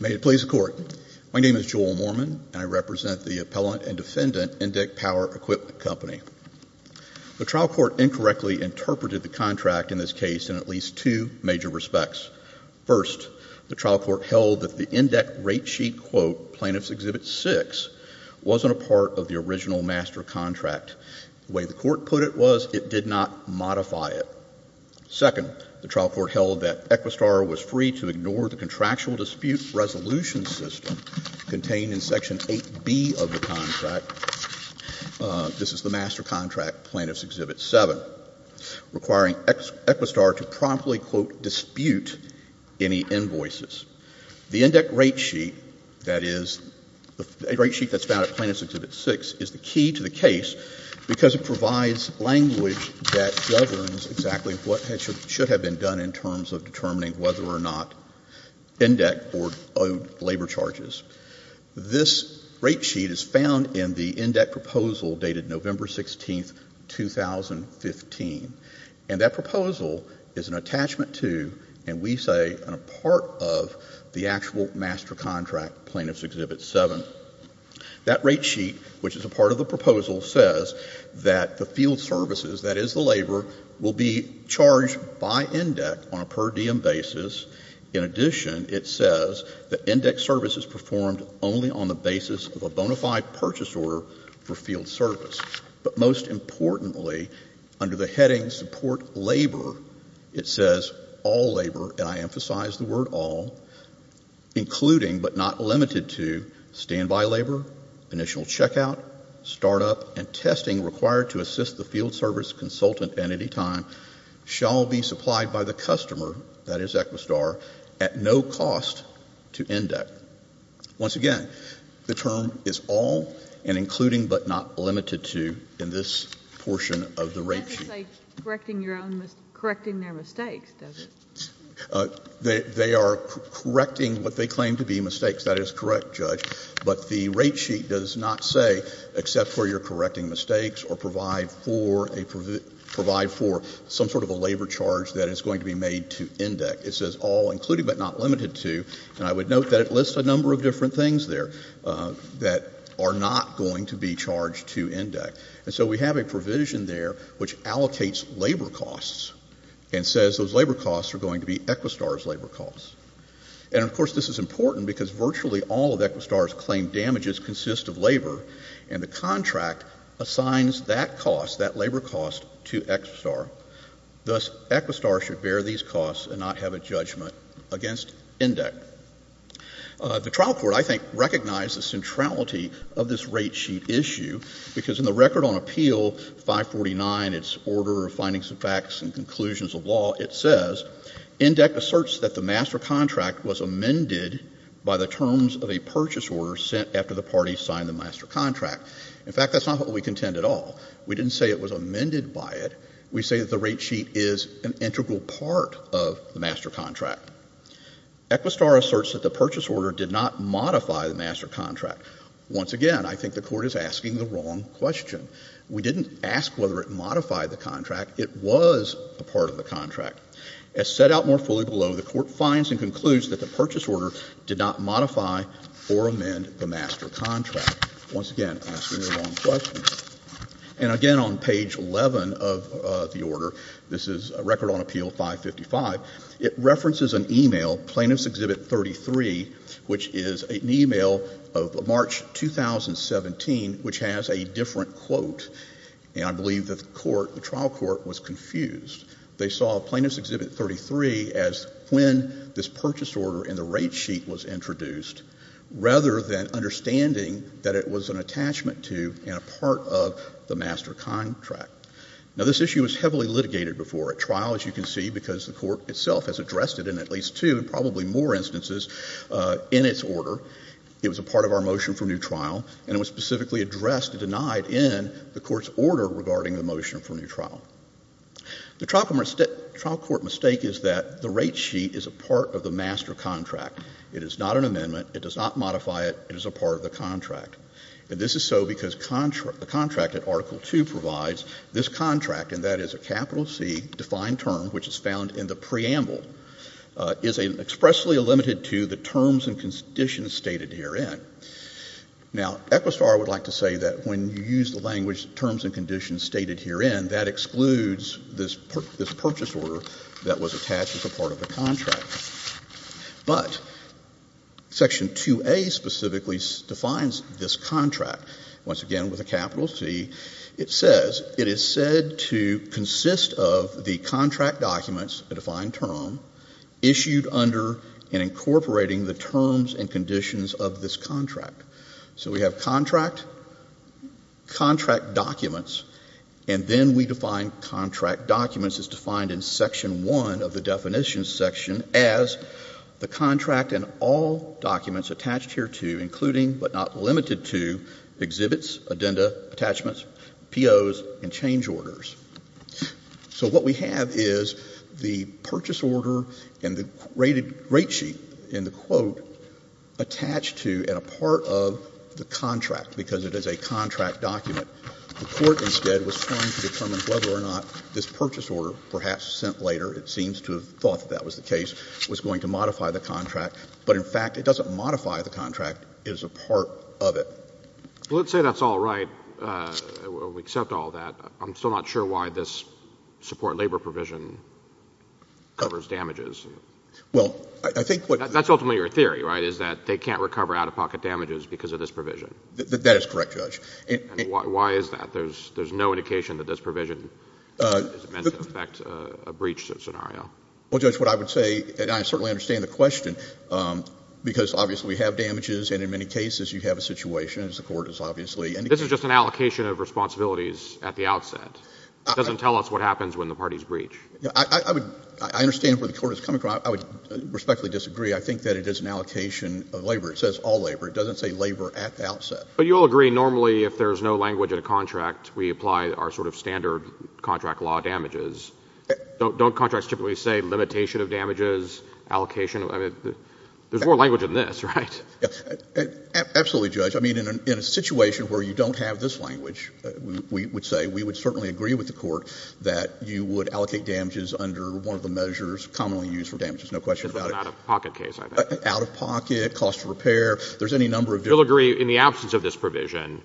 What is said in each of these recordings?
May it please the Court. My name is Joel Mormon and I represent the Appellant and Defendant Indeck Power Equipment Company. The trial court incorrectly interpreted the contract in this case in at least two major respects. First, the trial court held that the Indeck rate sheet quote, Plaintiff's Exhibit 6, wasn't a part of the original master contract. The way the court put it was it did not modify it. Second, the trial court held that Equistar was free to ignore the contractual dispute resolution system contained in Section 8B of the contract, this is the master contract, Plaintiff's Exhibit 7, requiring Equistar to promptly quote, dispute any invoices. The Indeck rate sheet, that is, the rate sheet that's found at Plaintiff's Exhibit 6, is the key to the case because it provides language that governs exactly what should have been done in terms of determining whether or not Indeck owed labor charges. This rate sheet is found in the Indeck proposal dated November 16, 2015. And that proposal is an attachment to, and we say a part of, the actual master contract, Plaintiff's Exhibit 7. That rate sheet, which is a part of the proposal, says that the field services, that is the labor, will be charged by Indeck on a per diem basis. In addition, it says that Indeck services performed only on the basis of a bona fide purchase order for field service. But most importantly, under the heading support labor, it says all labor, and I emphasize the word all, including but not limited to standby labor, initial checkout, startup, and testing required to assist the field service consultant at any time, shall be supplied by the customer, that is Equistar, at no cost to Indeck. Once again, the term is all and including but not limited to in this portion of the rate sheet. But that doesn't say correcting their mistakes, does it? They are correcting what they claim to be mistakes. That is correct, Judge. But the rate sheet does not say except where you're correcting mistakes or provide for a, provide for some sort of a labor charge that is going to be made to Indeck. It says all, including but not limited to, and I would note that it lists a number of different things there, that are not going to be charged to Indeck. And so we have a provision there which allocates labor costs and says those labor costs are going to be Equistar's labor costs. And, of course, this is important because virtually all of Equistar's claimed damages consist of labor, and the contract assigns that cost, that labor cost, to Equistar. Thus, Equistar should bear these costs and not have a judgment against Indeck. The trial court, I think, recognized the centrality of this rate sheet issue because in the record on appeal 549, its order of findings of facts and conclusions of law, it says, Indeck asserts that the master contract was amended by the terms of a purchase order sent after the party signed the master contract. In fact, that's not what we contend at all. We didn't say it was amended by it. We say that the rate sheet of Equistar asserts that the purchase order did not modify the master contract. Once again, I think the Court is asking the wrong question. We didn't ask whether it modified the contract. It was a part of the contract. As set out more fully below, the Court finds and concludes that the purchase order did not modify or amend the master contract, once again, asking the wrong question. And again, on page 11 of the Plaintiff's Exhibit 33, which is an e-mail of March 2017, which has a different quote, and I believe that the court, the trial court was confused. They saw Plaintiff's Exhibit 33 as when this purchase order in the rate sheet was introduced, rather than understanding that it was an attachment to and a part of the master contract. Now, this issue was heavily litigated before a trial, as you can see, because the trial court made a mistake in the process in its order. It was a part of our motion for new trial, and it was specifically addressed and denied in the Court's order regarding the motion for new trial. The trial court mistake is that the rate sheet is a part of the master contract. It is not an amendment. It does not modify it. It is a part of the contract. And this is so because the contract that Article II provides, this contract, and that is a capital C defined term, which is found in the preamble, is expressly limited to the terms and conditions stated herein. Now, Equistar would like to say that when you use the language terms and conditions stated herein, that excludes this purchase order that was attached as a part of the contract. But Section 2A specifically defines this contract. Once again, with a capital C, it says it is said to consist of the contract documents, a defined term, issued under and incorporating the terms and conditions of this contract. So we have contract, contract documents, and then we define contract documents as defined in Section 1 of the definitions section as the contract and all documents attached hereto, including but not limited to exhibits, addenda, attachments, POs, and change orders. So what we have is the purchase order and the rated rate sheet in the quote attached to and a part of the contract, because it is a contract document. The court instead was trying to determine whether or not this purchase order, perhaps sent later, it seems to have thought that was the case, was going to modify the contract. But in fact, it doesn't modify the contract. It is a part of it. Well, let's say that's all right. We accept all that. I'm still not sure why this support labor provision covers damages. Well, I think what — That's ultimately your theory, right, is that they can't recover out-of-pocket damages because of this provision. That is correct, Judge. Why is that? There's no indication that this provision is meant to affect a breach scenario. Well, Judge, what I would say, and I certainly understand the question, because obviously we have damages, and in many cases you have a situation, as the court has obviously indicated. This is just an allocation of responsibilities at the outset. It doesn't tell us what happens when the parties breach. I understand where the court is coming from. I would respectfully disagree. I think that it is an allocation of labor. It says all labor. It doesn't say labor at the outset. But you'll agree normally if there's no language in a contract, we apply our sort of standard contract law damages. Don't contracts typically say limitation of damages, allocation? I mean, there's more language than this, right? Absolutely, Judge. I mean, in a situation where you don't have this language, we would say we would certainly agree with the court that you would allocate damages under one of the measures commonly used for damages, no question about it. Just an out-of-pocket case, I think. Out-of-pocket, cost of repair. There's any number of — You'll agree in the absence of this provision,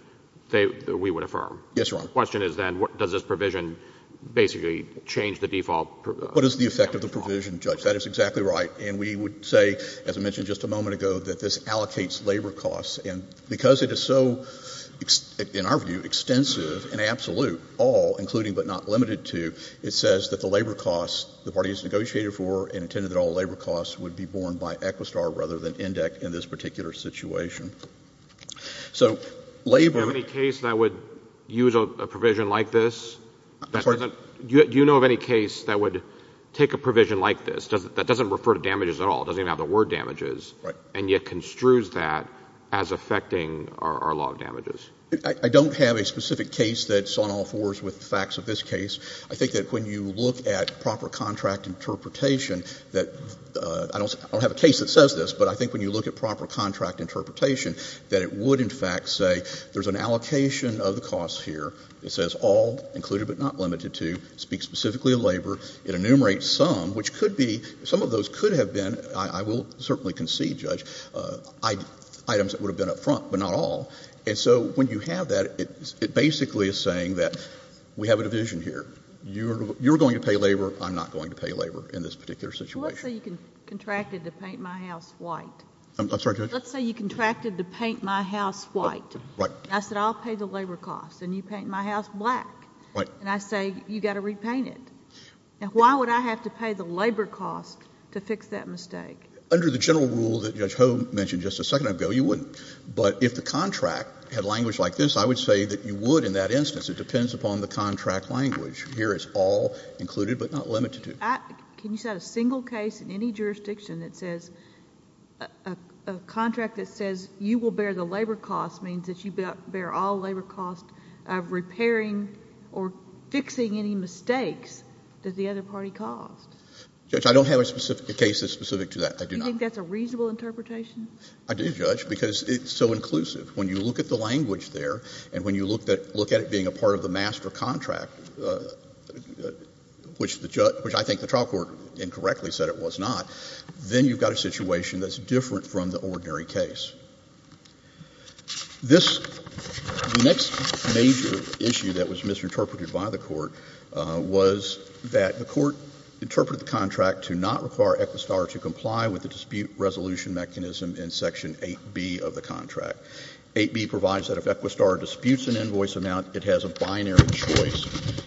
we would affirm? Yes, Your Honor. The question is then, does this provision basically change the default? What is the effect of the provision, Judge? That is exactly right. And we would say, as I mentioned just a moment ago, that this allocates labor costs. And because it is so, in our view, extensive and absolute, all, including but not limited to, it says that the labor costs the parties negotiated for and intended that all labor costs would be borne by Equistar rather than INDEC in this particular situation. So labor — Do you know of any case that would use a provision like this? I'm sorry? Do you know of any case that would take a provision like this, that doesn't refer to damages at all, doesn't even have the word damages, and yet construes that as affecting our law of damages? I don't have a specific case that's on all fours with the facts of this case. I think that when you look at proper contract interpretation that — I don't have a case that says this, but I think when you look at proper contract interpretation that it would, in fact, say there's an allocation of the costs here. It says all, included but not limited to, speak specifically to labor. It enumerates some, which could be — some of those could have been — I will certainly concede, Judge — items that would have been up front, but not all. And so when you have that, it basically is saying that we have a division here. You're going to pay labor, I'm not going to pay labor in this particular situation. Let's say you contracted to paint my house white. I'm sorry, Judge? Let's say you contracted to paint my house white. Right. And I said I'll pay the labor costs, and you paint my house black. Right. And I say you've got to repaint it. Now, why would I have to pay the labor costs to fix that mistake? Under the general rule that Judge Hoeh mentioned just a second ago, you wouldn't. But if the contract had language like this, I would say that you would in that instance. It depends upon the contract language. Here it's all, included but not limited to. But, Judge, can you cite a single case in any jurisdiction that says — a contract that says you will bear the labor costs means that you bear all labor costs of repairing or fixing any mistakes that the other party caused? Judge, I don't have a specific case that's specific to that. I do not. Do you think that's a reasonable interpretation? I do, Judge, because it's so inclusive. When you look at the language there and when you look at it being a part of the master contract, which the — which I think the trial court incorrectly said it was not, then you've got a situation that's different from the ordinary case. This — the next major issue that was misinterpreted by the Court was that the Court interpreted the contract to not require Equistar to comply with the dispute resolution mechanism in Section 8B of the contract. 8B provides that if Equistar disputes an invoice amount, it has a binary choice,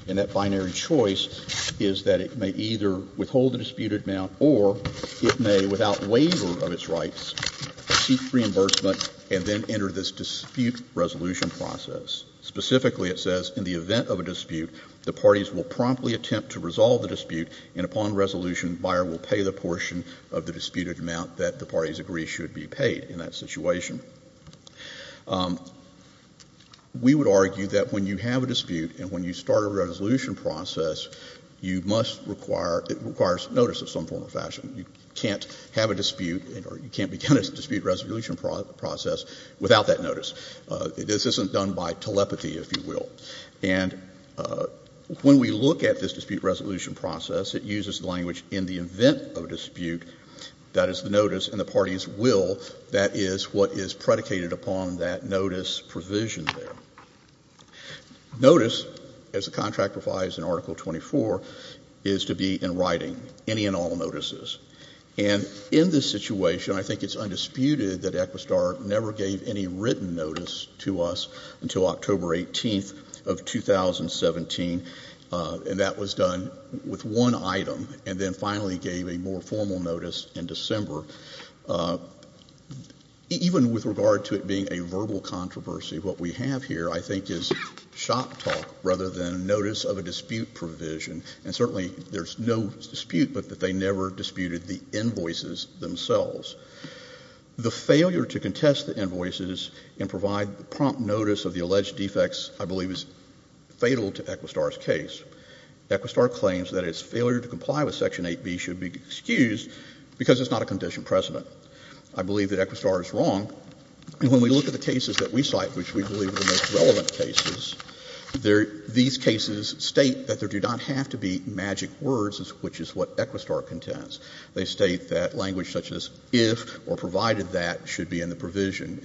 and that binary choice is that it may either withhold the disputed amount or it may, without waiver of its rights, seek reimbursement and then enter this dispute resolution process. Specifically, it says in the event of a dispute, the parties will promptly attempt to resolve the dispute, and upon resolution, Bayer will pay the portion of the disputed amount that the parties agree should be paid in that situation. We would argue that when you have a dispute and when you start a resolution process, you must require — it requires notice of some form or fashion. You can't have a dispute or you can't begin a dispute resolution process without that notice. This isn't done by telepathy, if you will. And when we look at this dispute resolution process, it uses the language, in the case of Equistar, that is predicated upon that notice provision there. Notice, as the contract provides in Article 24, is to be in writing, any and all notices. And in this situation, I think it's undisputed that Equistar never gave any written notice to us until October 18th of 2017, and that was done with one item, and then finally gave a more formal notice in December. Even with regard to it being a verbal controversy, what we have here, I think, is shop talk rather than notice of a dispute provision. And certainly there's no dispute but that they never disputed the invoices themselves. The failure to contest the invoices and provide prompt notice of the alleged defects, I believe, is fatal to Equistar's case. Equistar claims that its failure to comply with Section 8b should be excused because it's not a condition precedent. I believe that Equistar is wrong. When we look at the cases that we cite, which we believe are the most relevant cases, these cases state that there do not have to be magic words, which is what Equistar contends. They state that language such as if or provided that should be in the provision,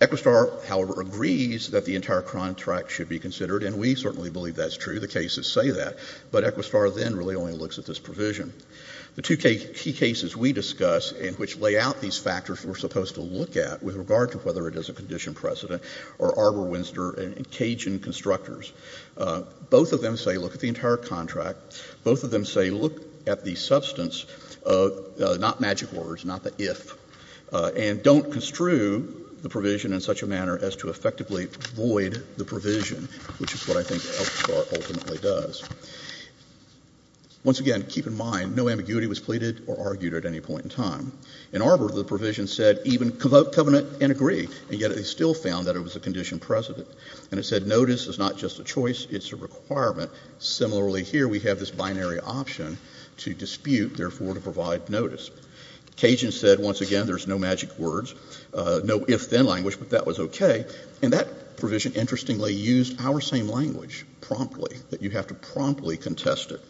Equistar, however, agrees that the entire contract should be considered, and we certainly believe that's true. The cases say that. But Equistar then really only looks at this provision. The two key cases we discuss in which lay out these factors we're supposed to look at with regard to whether it is a condition precedent are Arbor Winster and Cajun Constructors. Both of them say look at the entire contract. Both of them say look at the substance, not magic words, not the if, and don't construe the provision in such a manner as to effectively void the provision, which is what I think Equistar ultimately does. Once again, keep in mind, no ambiguity was pleaded or argued at any point in time. In Arbor, the provision said even covenant and agree, and yet it still found that it was a condition precedent. And it said notice is not just a choice, it's a requirement. Similarly, here we have this binary option to dispute, therefore, to provide notice. Cajun said, once again, there's no magic words, no if, then language, but that was okay. And that provision, interestingly, used our same language promptly, that you have to promptly contest it.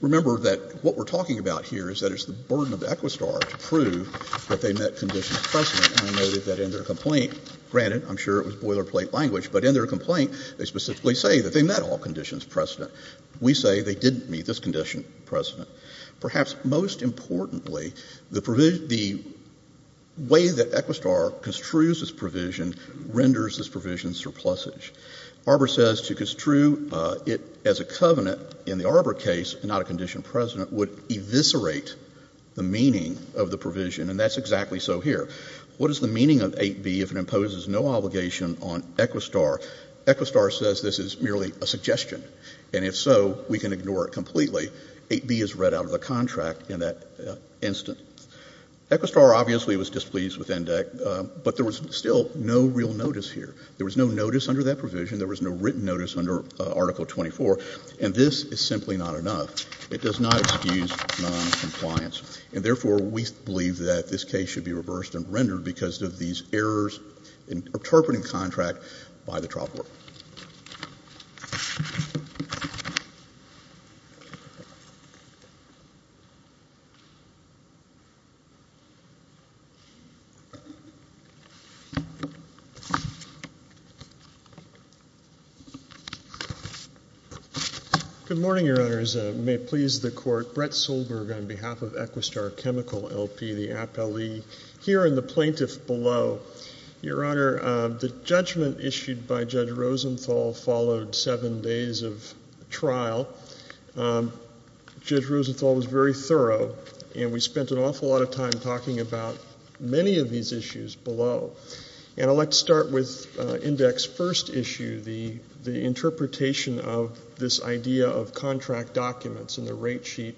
Remember that what we're talking about here is that it's the burden of Equistar to prove that they met conditions precedent, and I noted that in their complaint. Granted, I'm sure it was boilerplate language, but in their complaint, they specifically say that they met all conditions precedent. We say they didn't meet this condition precedent. Perhaps most importantly, the way that Equistar construes this provision renders this provision surplusage. Arbor says to construe it as a covenant in the Arbor case, not a condition precedent, would eviscerate the meaning of the provision, and that's exactly so here. What is the meaning of 8B if it imposes no obligation on Equistar? Equistar says this is merely a suggestion, and if so, we can ignore it completely. 8B is read out of the contract in that instant. Equistar obviously was displeased with ENDEC, but there was still no real notice here. There was no notice under that provision. There was no written notice under Article 24, and this is simply not enough. It does not excuse noncompliance, and therefore, we believe that this case should be reversed and rendered because of these errors in interpreting contract by the trial court. Thank you. Good morning, Your Honors. May it please the Court. Brett Solberg on behalf of Equistar Chemical, LP, the Ap-Le here and the plaintiff below. Your Honor, the judgment issued by Judge Rosenthal followed seven days of trial. Judge Rosenthal was very thorough, and we spent an awful lot of time talking about many of these issues below, and I'd like to start with Index's first issue, the interpretation of this idea of contract documents and the rate sheet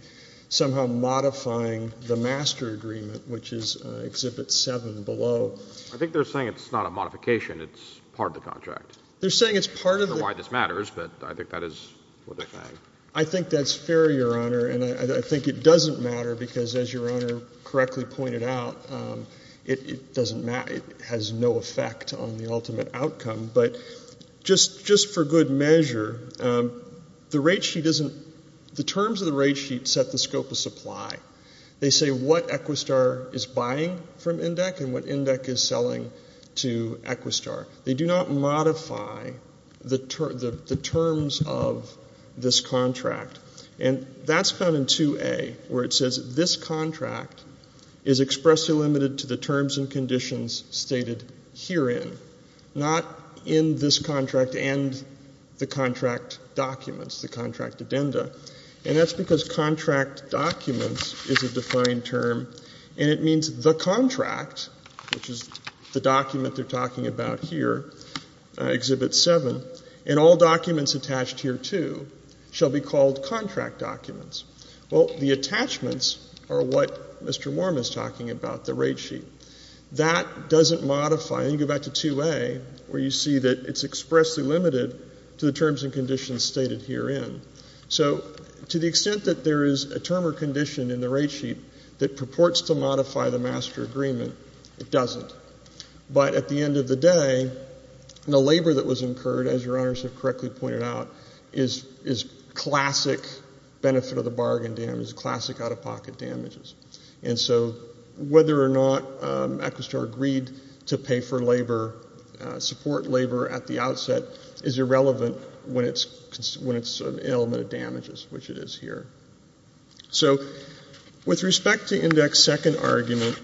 somehow modifying the master agreement, which is Exhibit 7 below. I think they're saying it's not a modification, it's part of the contract. They're saying it's part of the— I don't know why this matters, but I think that is what they're saying. I think that's fair, Your Honor, and I think it doesn't matter because, as Your Honor correctly pointed out, it has no effect on the ultimate outcome. But just for good measure, the terms of the rate sheet set the scope of supply. They say what Equistar is buying from Index and what Index is selling to Equistar. They do not modify the terms of this contract. And that's found in 2A, where it says this contract is expressly limited to the terms and conditions stated herein, not in this contract and the contract documents, the contract addenda, and that's because contract documents is a defined term, and it means the contract, which is the document they're talking about here, Exhibit 7, and all documents attached here, too, shall be called contract documents. Well, the attachments are what Mr. Worm is talking about, the rate sheet. That doesn't modify, and you go back to 2A, where you see that it's expressly limited to the terms and conditions stated herein. So to the extent that there is a term or condition in the rate sheet that purports to modify the master agreement, it doesn't. But at the end of the day, the labor that was incurred, as Your Honors have correctly pointed out, is classic benefit of the bargain damage, classic out-of-pocket damages. And so whether or not Equistar agreed to pay for labor, support labor at the outset, is irrelevant when it's an element of damages, which it is here. So with respect to index second argument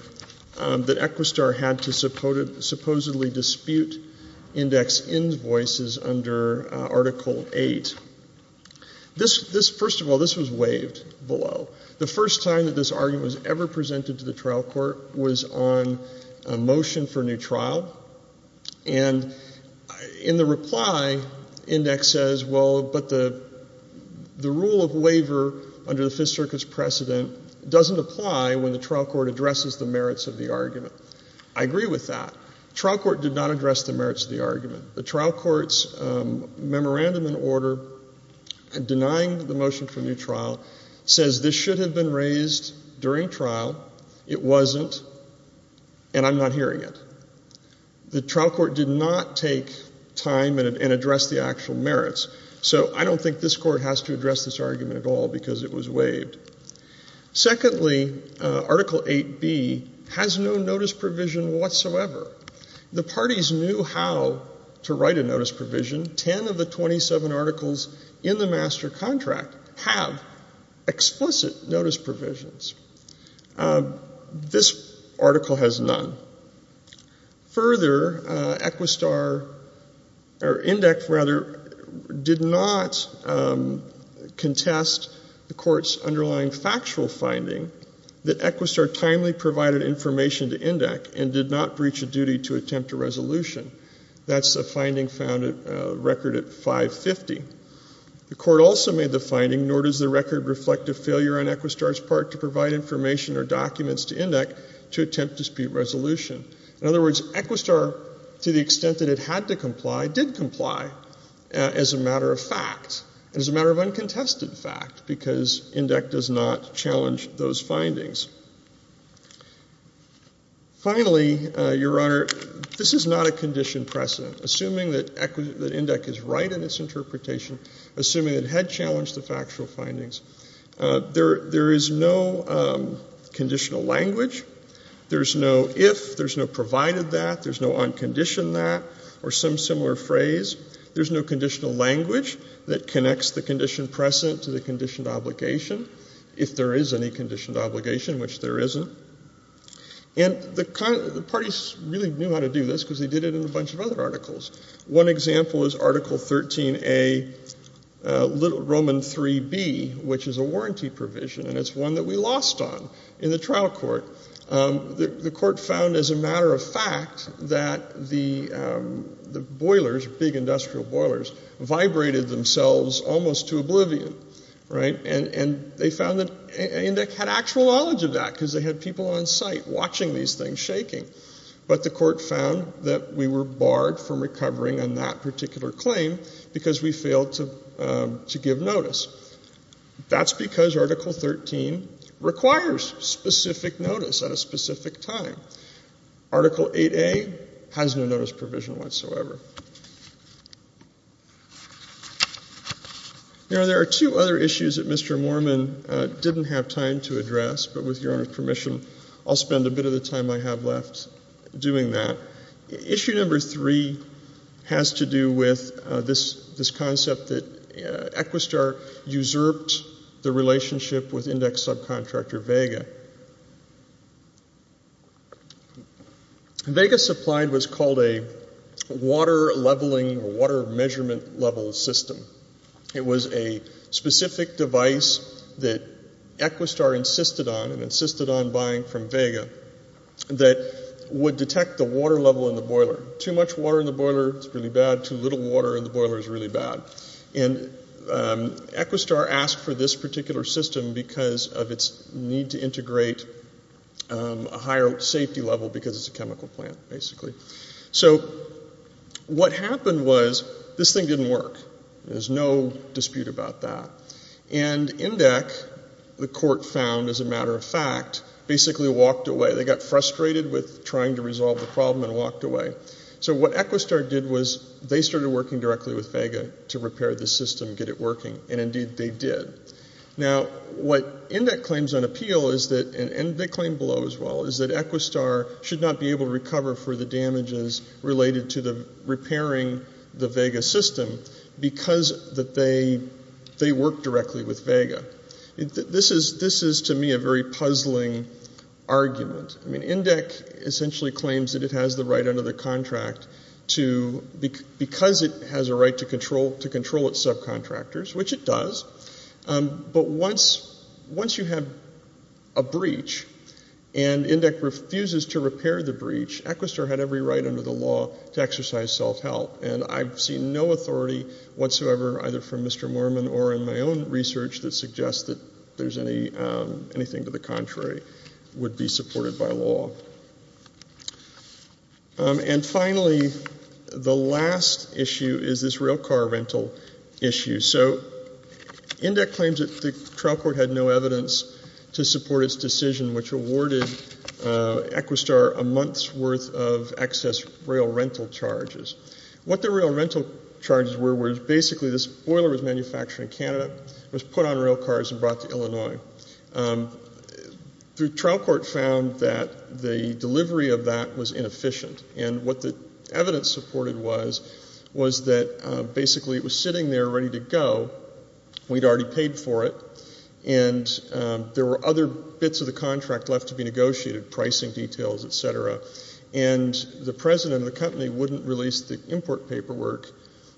that Equistar had to supposedly dispute index invoices under Article 8, this, first of all, this was waived below. The first time that this argument was ever presented to the trial court was on a motion for new trial, and in the reply, index says, well, but the rule of waiver under the Fifth Circuit's precedent doesn't apply when the trial court addresses the merits of the argument. I agree with that. Trial court did not address the merits of the argument. The trial court's memorandum in order, denying the motion for new trial, says this should have been raised during trial. It wasn't, and I'm not hearing it. The trial court did not take time and address the actual merits. So I don't think this court has to address this argument at all because it was waived. Secondly, Article 8B has no notice provision whatsoever. The parties knew how to write a notice provision. Ten of the 27 articles in the master contract have explicit notice provisions. This article has none. Further, Equistar, or INDEC, rather, did not contest the court's underlying factual finding that Equistar timely provided information to INDEC and did not breach a duty to attempt a resolution. That's a finding found at record at 550. The court also made the finding, nor does the record reflect a failure on Equistar's part to provide information or documents to INDEC to attempt dispute resolution. In other words, Equistar, to the extent that it had to comply, did comply as a matter of fact, as a matter of uncontested fact because INDEC does not challenge those findings. Finally, Your Honor, this is not a condition precedent. Assuming that INDEC is right in its interpretation, assuming it had challenged the factual findings, there is no conditional language, there's no if, there's no provided that, there's no unconditioned that or some similar phrase, there's no conditional language that connects the condition precedent to the conditioned obligation. If there is any conditioned obligation, which there isn't. And the parties really knew how to do this because they did it in a bunch of other articles. One example is Article 13A, Roman 3B, which is a warranty provision, and it's one that we lost on in the trial court. The court found, as a matter of fact, that the boilers, big industrial boilers, vibrated themselves almost to oblivion, right? And they found that INDEC had actual knowledge of that because they had people on site watching these things shaking. But the court found that we were barred from recovering on that particular claim because we failed to give notice. That's because Article 13 requires specific notice at a specific time. Article 8A has no notice provision whatsoever. Now, there are two other issues that Mr. Moorman didn't have time to address, but with your permission, I'll spend a bit of the time I have left doing that. Issue number three has to do with this concept that Equistar usurped the relationship with INDEC subcontractor, Vega. Vega supplied what's called a water leveling or water measurement level system. It was a specific device that Equistar insisted on and insisted on buying from Vega that would detect the water level in the boiler. Too much water in the boiler is really bad. Too little water in the boiler is really bad. And Equistar asked for this particular system because of its need to integrate a higher safety level because it's a chemical plant, basically. So what happened was this thing didn't work. There's no dispute about that. And INDEC, the court found as a matter of fact, basically walked away. They got frustrated with trying to resolve the problem and walked away. So what Equistar did was they started working directly with Vega to repair the system, get it working, and indeed they did. Now what INDEC claims on appeal is that, and they claim below as well, is that Equistar should not be able to recover for the damages related to repairing the Vega system because they worked directly with Vega. This is to me a very puzzling argument. I mean, INDEC essentially claims that it has the right under the contract because it has a right to control its subcontractors, which it does. But once you have a breach and INDEC refuses to repair the breach, Equistar had every right under the law to exercise self-help. And I've seen no authority whatsoever, either from Mr. Moorman or in my own research, that suggests that anything to the contrary would be supported by law. And finally, the last issue is this rail car rental issue. So INDEC claims that the trial court had no evidence to support its decision, which awarded Equistar a month's worth of excess rail rental charges. What the rail rental charges were was basically this boiler was manufactured in Canada, was put on rail cars and brought to Illinois. The trial court found that the delivery of that was inefficient. And what the evidence supported was, was that basically it was sitting there ready to go, we'd already paid for it, and there were other bits of the contract left to be negotiated, pricing details, et cetera. And the president of the company wouldn't release the import paperwork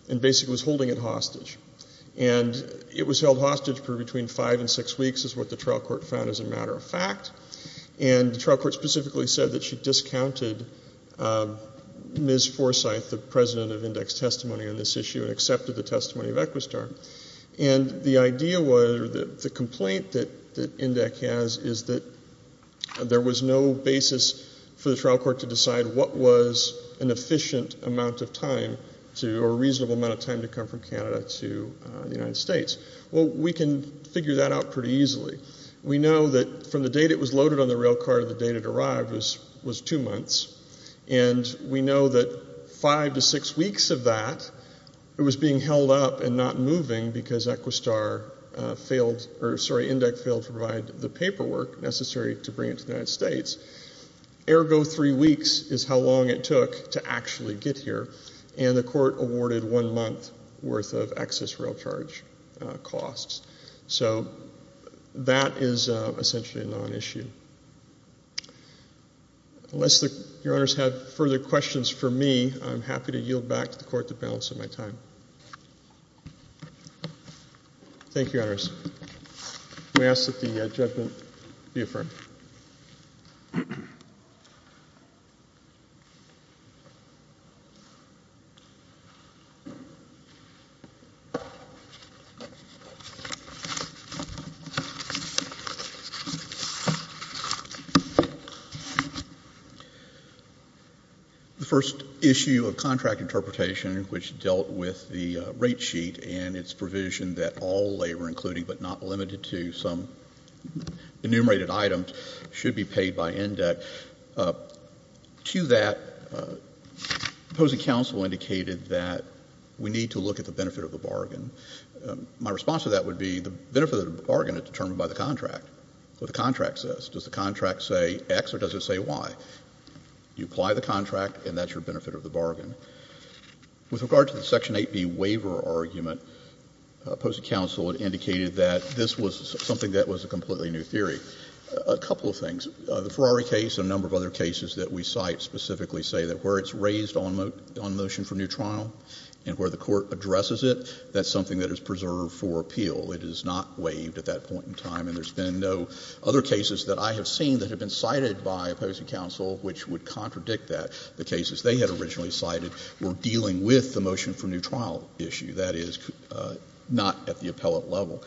and basically was holding it hostage. And it was held hostage for between five and six weeks is what the trial court found as a matter of fact, and the trial court specifically said that she discounted Ms. Forsyth, the president of INDEC's testimony on this issue and accepted the testimony of Equistar. And the idea was, or the complaint that INDEC has is that there was no basis for the trial court to decide what was an efficient amount of time to, or a reasonable amount of time to come from Canada to the United States. Well, we can figure that out pretty easily. We know that from the date it was loaded on the rail car to the date it arrived was two months. And we know that five to six weeks of that, it was being held up and not moving because Equistar failed, or sorry, INDEC failed to provide the paperwork necessary to bring it to the United States. Ergo three weeks is how long it took to actually get here. And the court awarded one month worth of excess rail charge costs. So, that is essentially a non-issue. Unless your honors have further questions for me, I'm happy to yield back to the court the balance of my time. Thank you, honors. We ask that the judgment be affirmed. The first issue of contract interpretation, which dealt with the rate sheet and its provision that all labor, including but not limited to some enumerated items, should be paid by INDEC. To that, opposing counsel indicated that we need to look at the benefit of the bargain. My response to that would be the benefit of the bargain is determined by the contract, what the contract says. Does the contract say X or does it say Y? You apply the contract and that's your benefit of the bargain. With regard to the Section 8B waiver argument, opposing counsel had indicated that this was something that was a completely new theory. A couple of things. The Ferrari case and a number of other cases that we cite specifically say that where it's raised on motion for new trial and where the court addresses it, that's something that is preserved for appeal. It is not waived at that point in time. And there's been no other cases that I have seen that have been cited by opposing counsel which would contradict that. The cases they had originally cited were dealing with the motion for new trial issue. That is not at the appellate level.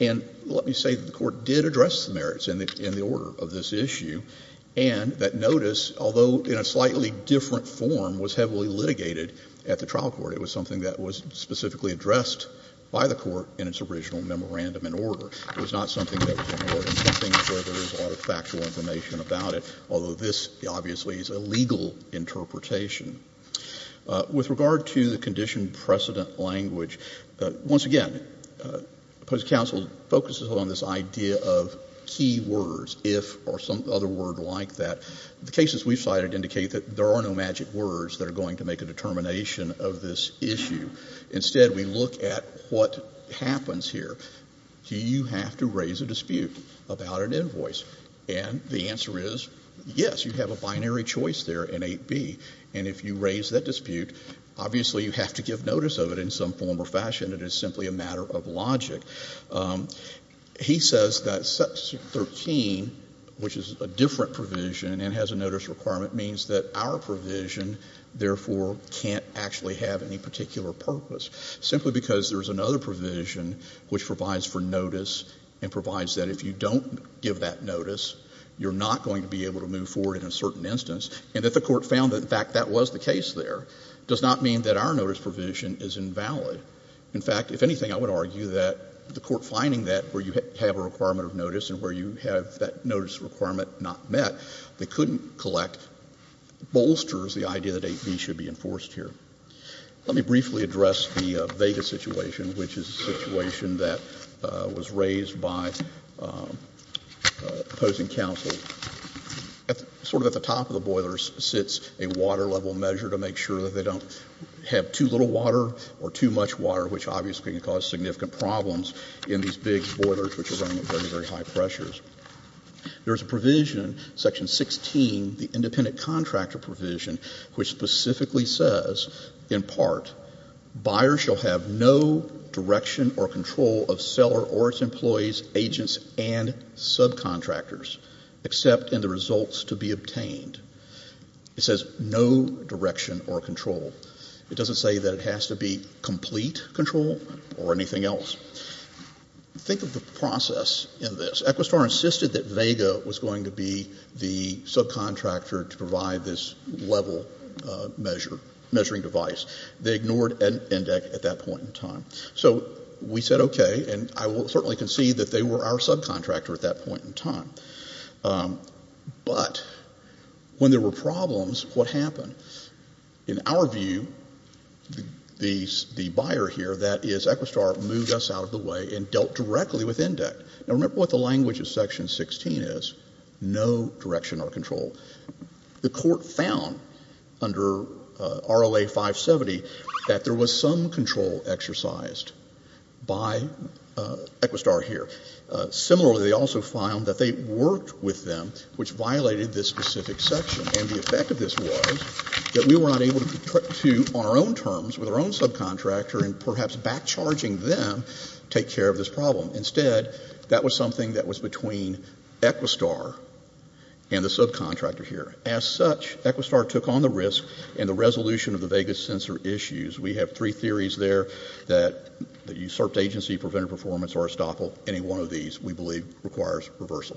And let me say that the court did address the merits in the order of this issue. And that notice, although in a slightly different form, was heavily litigated at the trial court. It was something that was specifically addressed by the court in its original memorandum and order. It was not something that was more than something where there is a lot of factual information about it, although this obviously is a legal interpretation. With regard to the condition precedent language, once again, opposing counsel focuses on this idea of key words, if or some other word like that. The cases we've cited indicate that there are no magic words that are going to make a determination of this issue. Instead, we look at what happens here. Do you have to raise a dispute about an invoice? And the answer is yes. You have a binary choice there in 8B. And if you raise that dispute, obviously you have to give notice of it in some form or fashion. It is simply a matter of logic. He says that section 13, which is a different provision and has a notice requirement, means that our provision, therefore, can't actually have any particular purpose, simply because there is another provision which provides for notice and provides that if you don't give that notice, you're not going to be able to move forward in a certain instance. And if the Court found that, in fact, that was the case there, it does not mean that our notice provision is invalid. In fact, if anything, I would argue that the Court finding that where you have a requirement of notice and where you have that notice requirement not met, they couldn't collect bolsters the idea that 8B should be enforced here. Let me briefly address the Vega situation, which is a situation that was raised by opposing counsel. Sort of at the top of the boilers sits a water level measure to make sure that they don't have too little water or too much water, which obviously can cause significant problems in these big boilers which are running at very, very high pressures. There is a provision, section 16, the independent contractor provision, which specifically says, in part, buyers shall have no direction or control of seller or its employees, agents and subcontractors, except in the results to be obtained. It says no direction or control. It doesn't say that it has to be complete control or anything else. Think of the process in this. They ignored ENDEC at that point in time. So we said okay, and I will certainly concede that they were our subcontractor at that point in time. But when there were problems, what happened? In our view, the buyer here, that is Equistar, moved us out of the way and dealt directly with ENDEC. Now, remember what the language of section 16 is, no direction or control. The Court found under RLA 570 that there was some control exercised by Equistar here. Similarly, they also found that they worked with them, which violated this specific section. And the effect of this was that we were not able to, on our own terms, with our own subcontractor, and perhaps backcharging them, take care of this problem. Instead, that was something that was between Equistar and the subcontractor here. As such, Equistar took on the risk and the resolution of the Vegas sensor issues. We have three theories there that usurped agency, prevented performance, or estoppel. Any one of these, we believe, requires reversal. Thank you.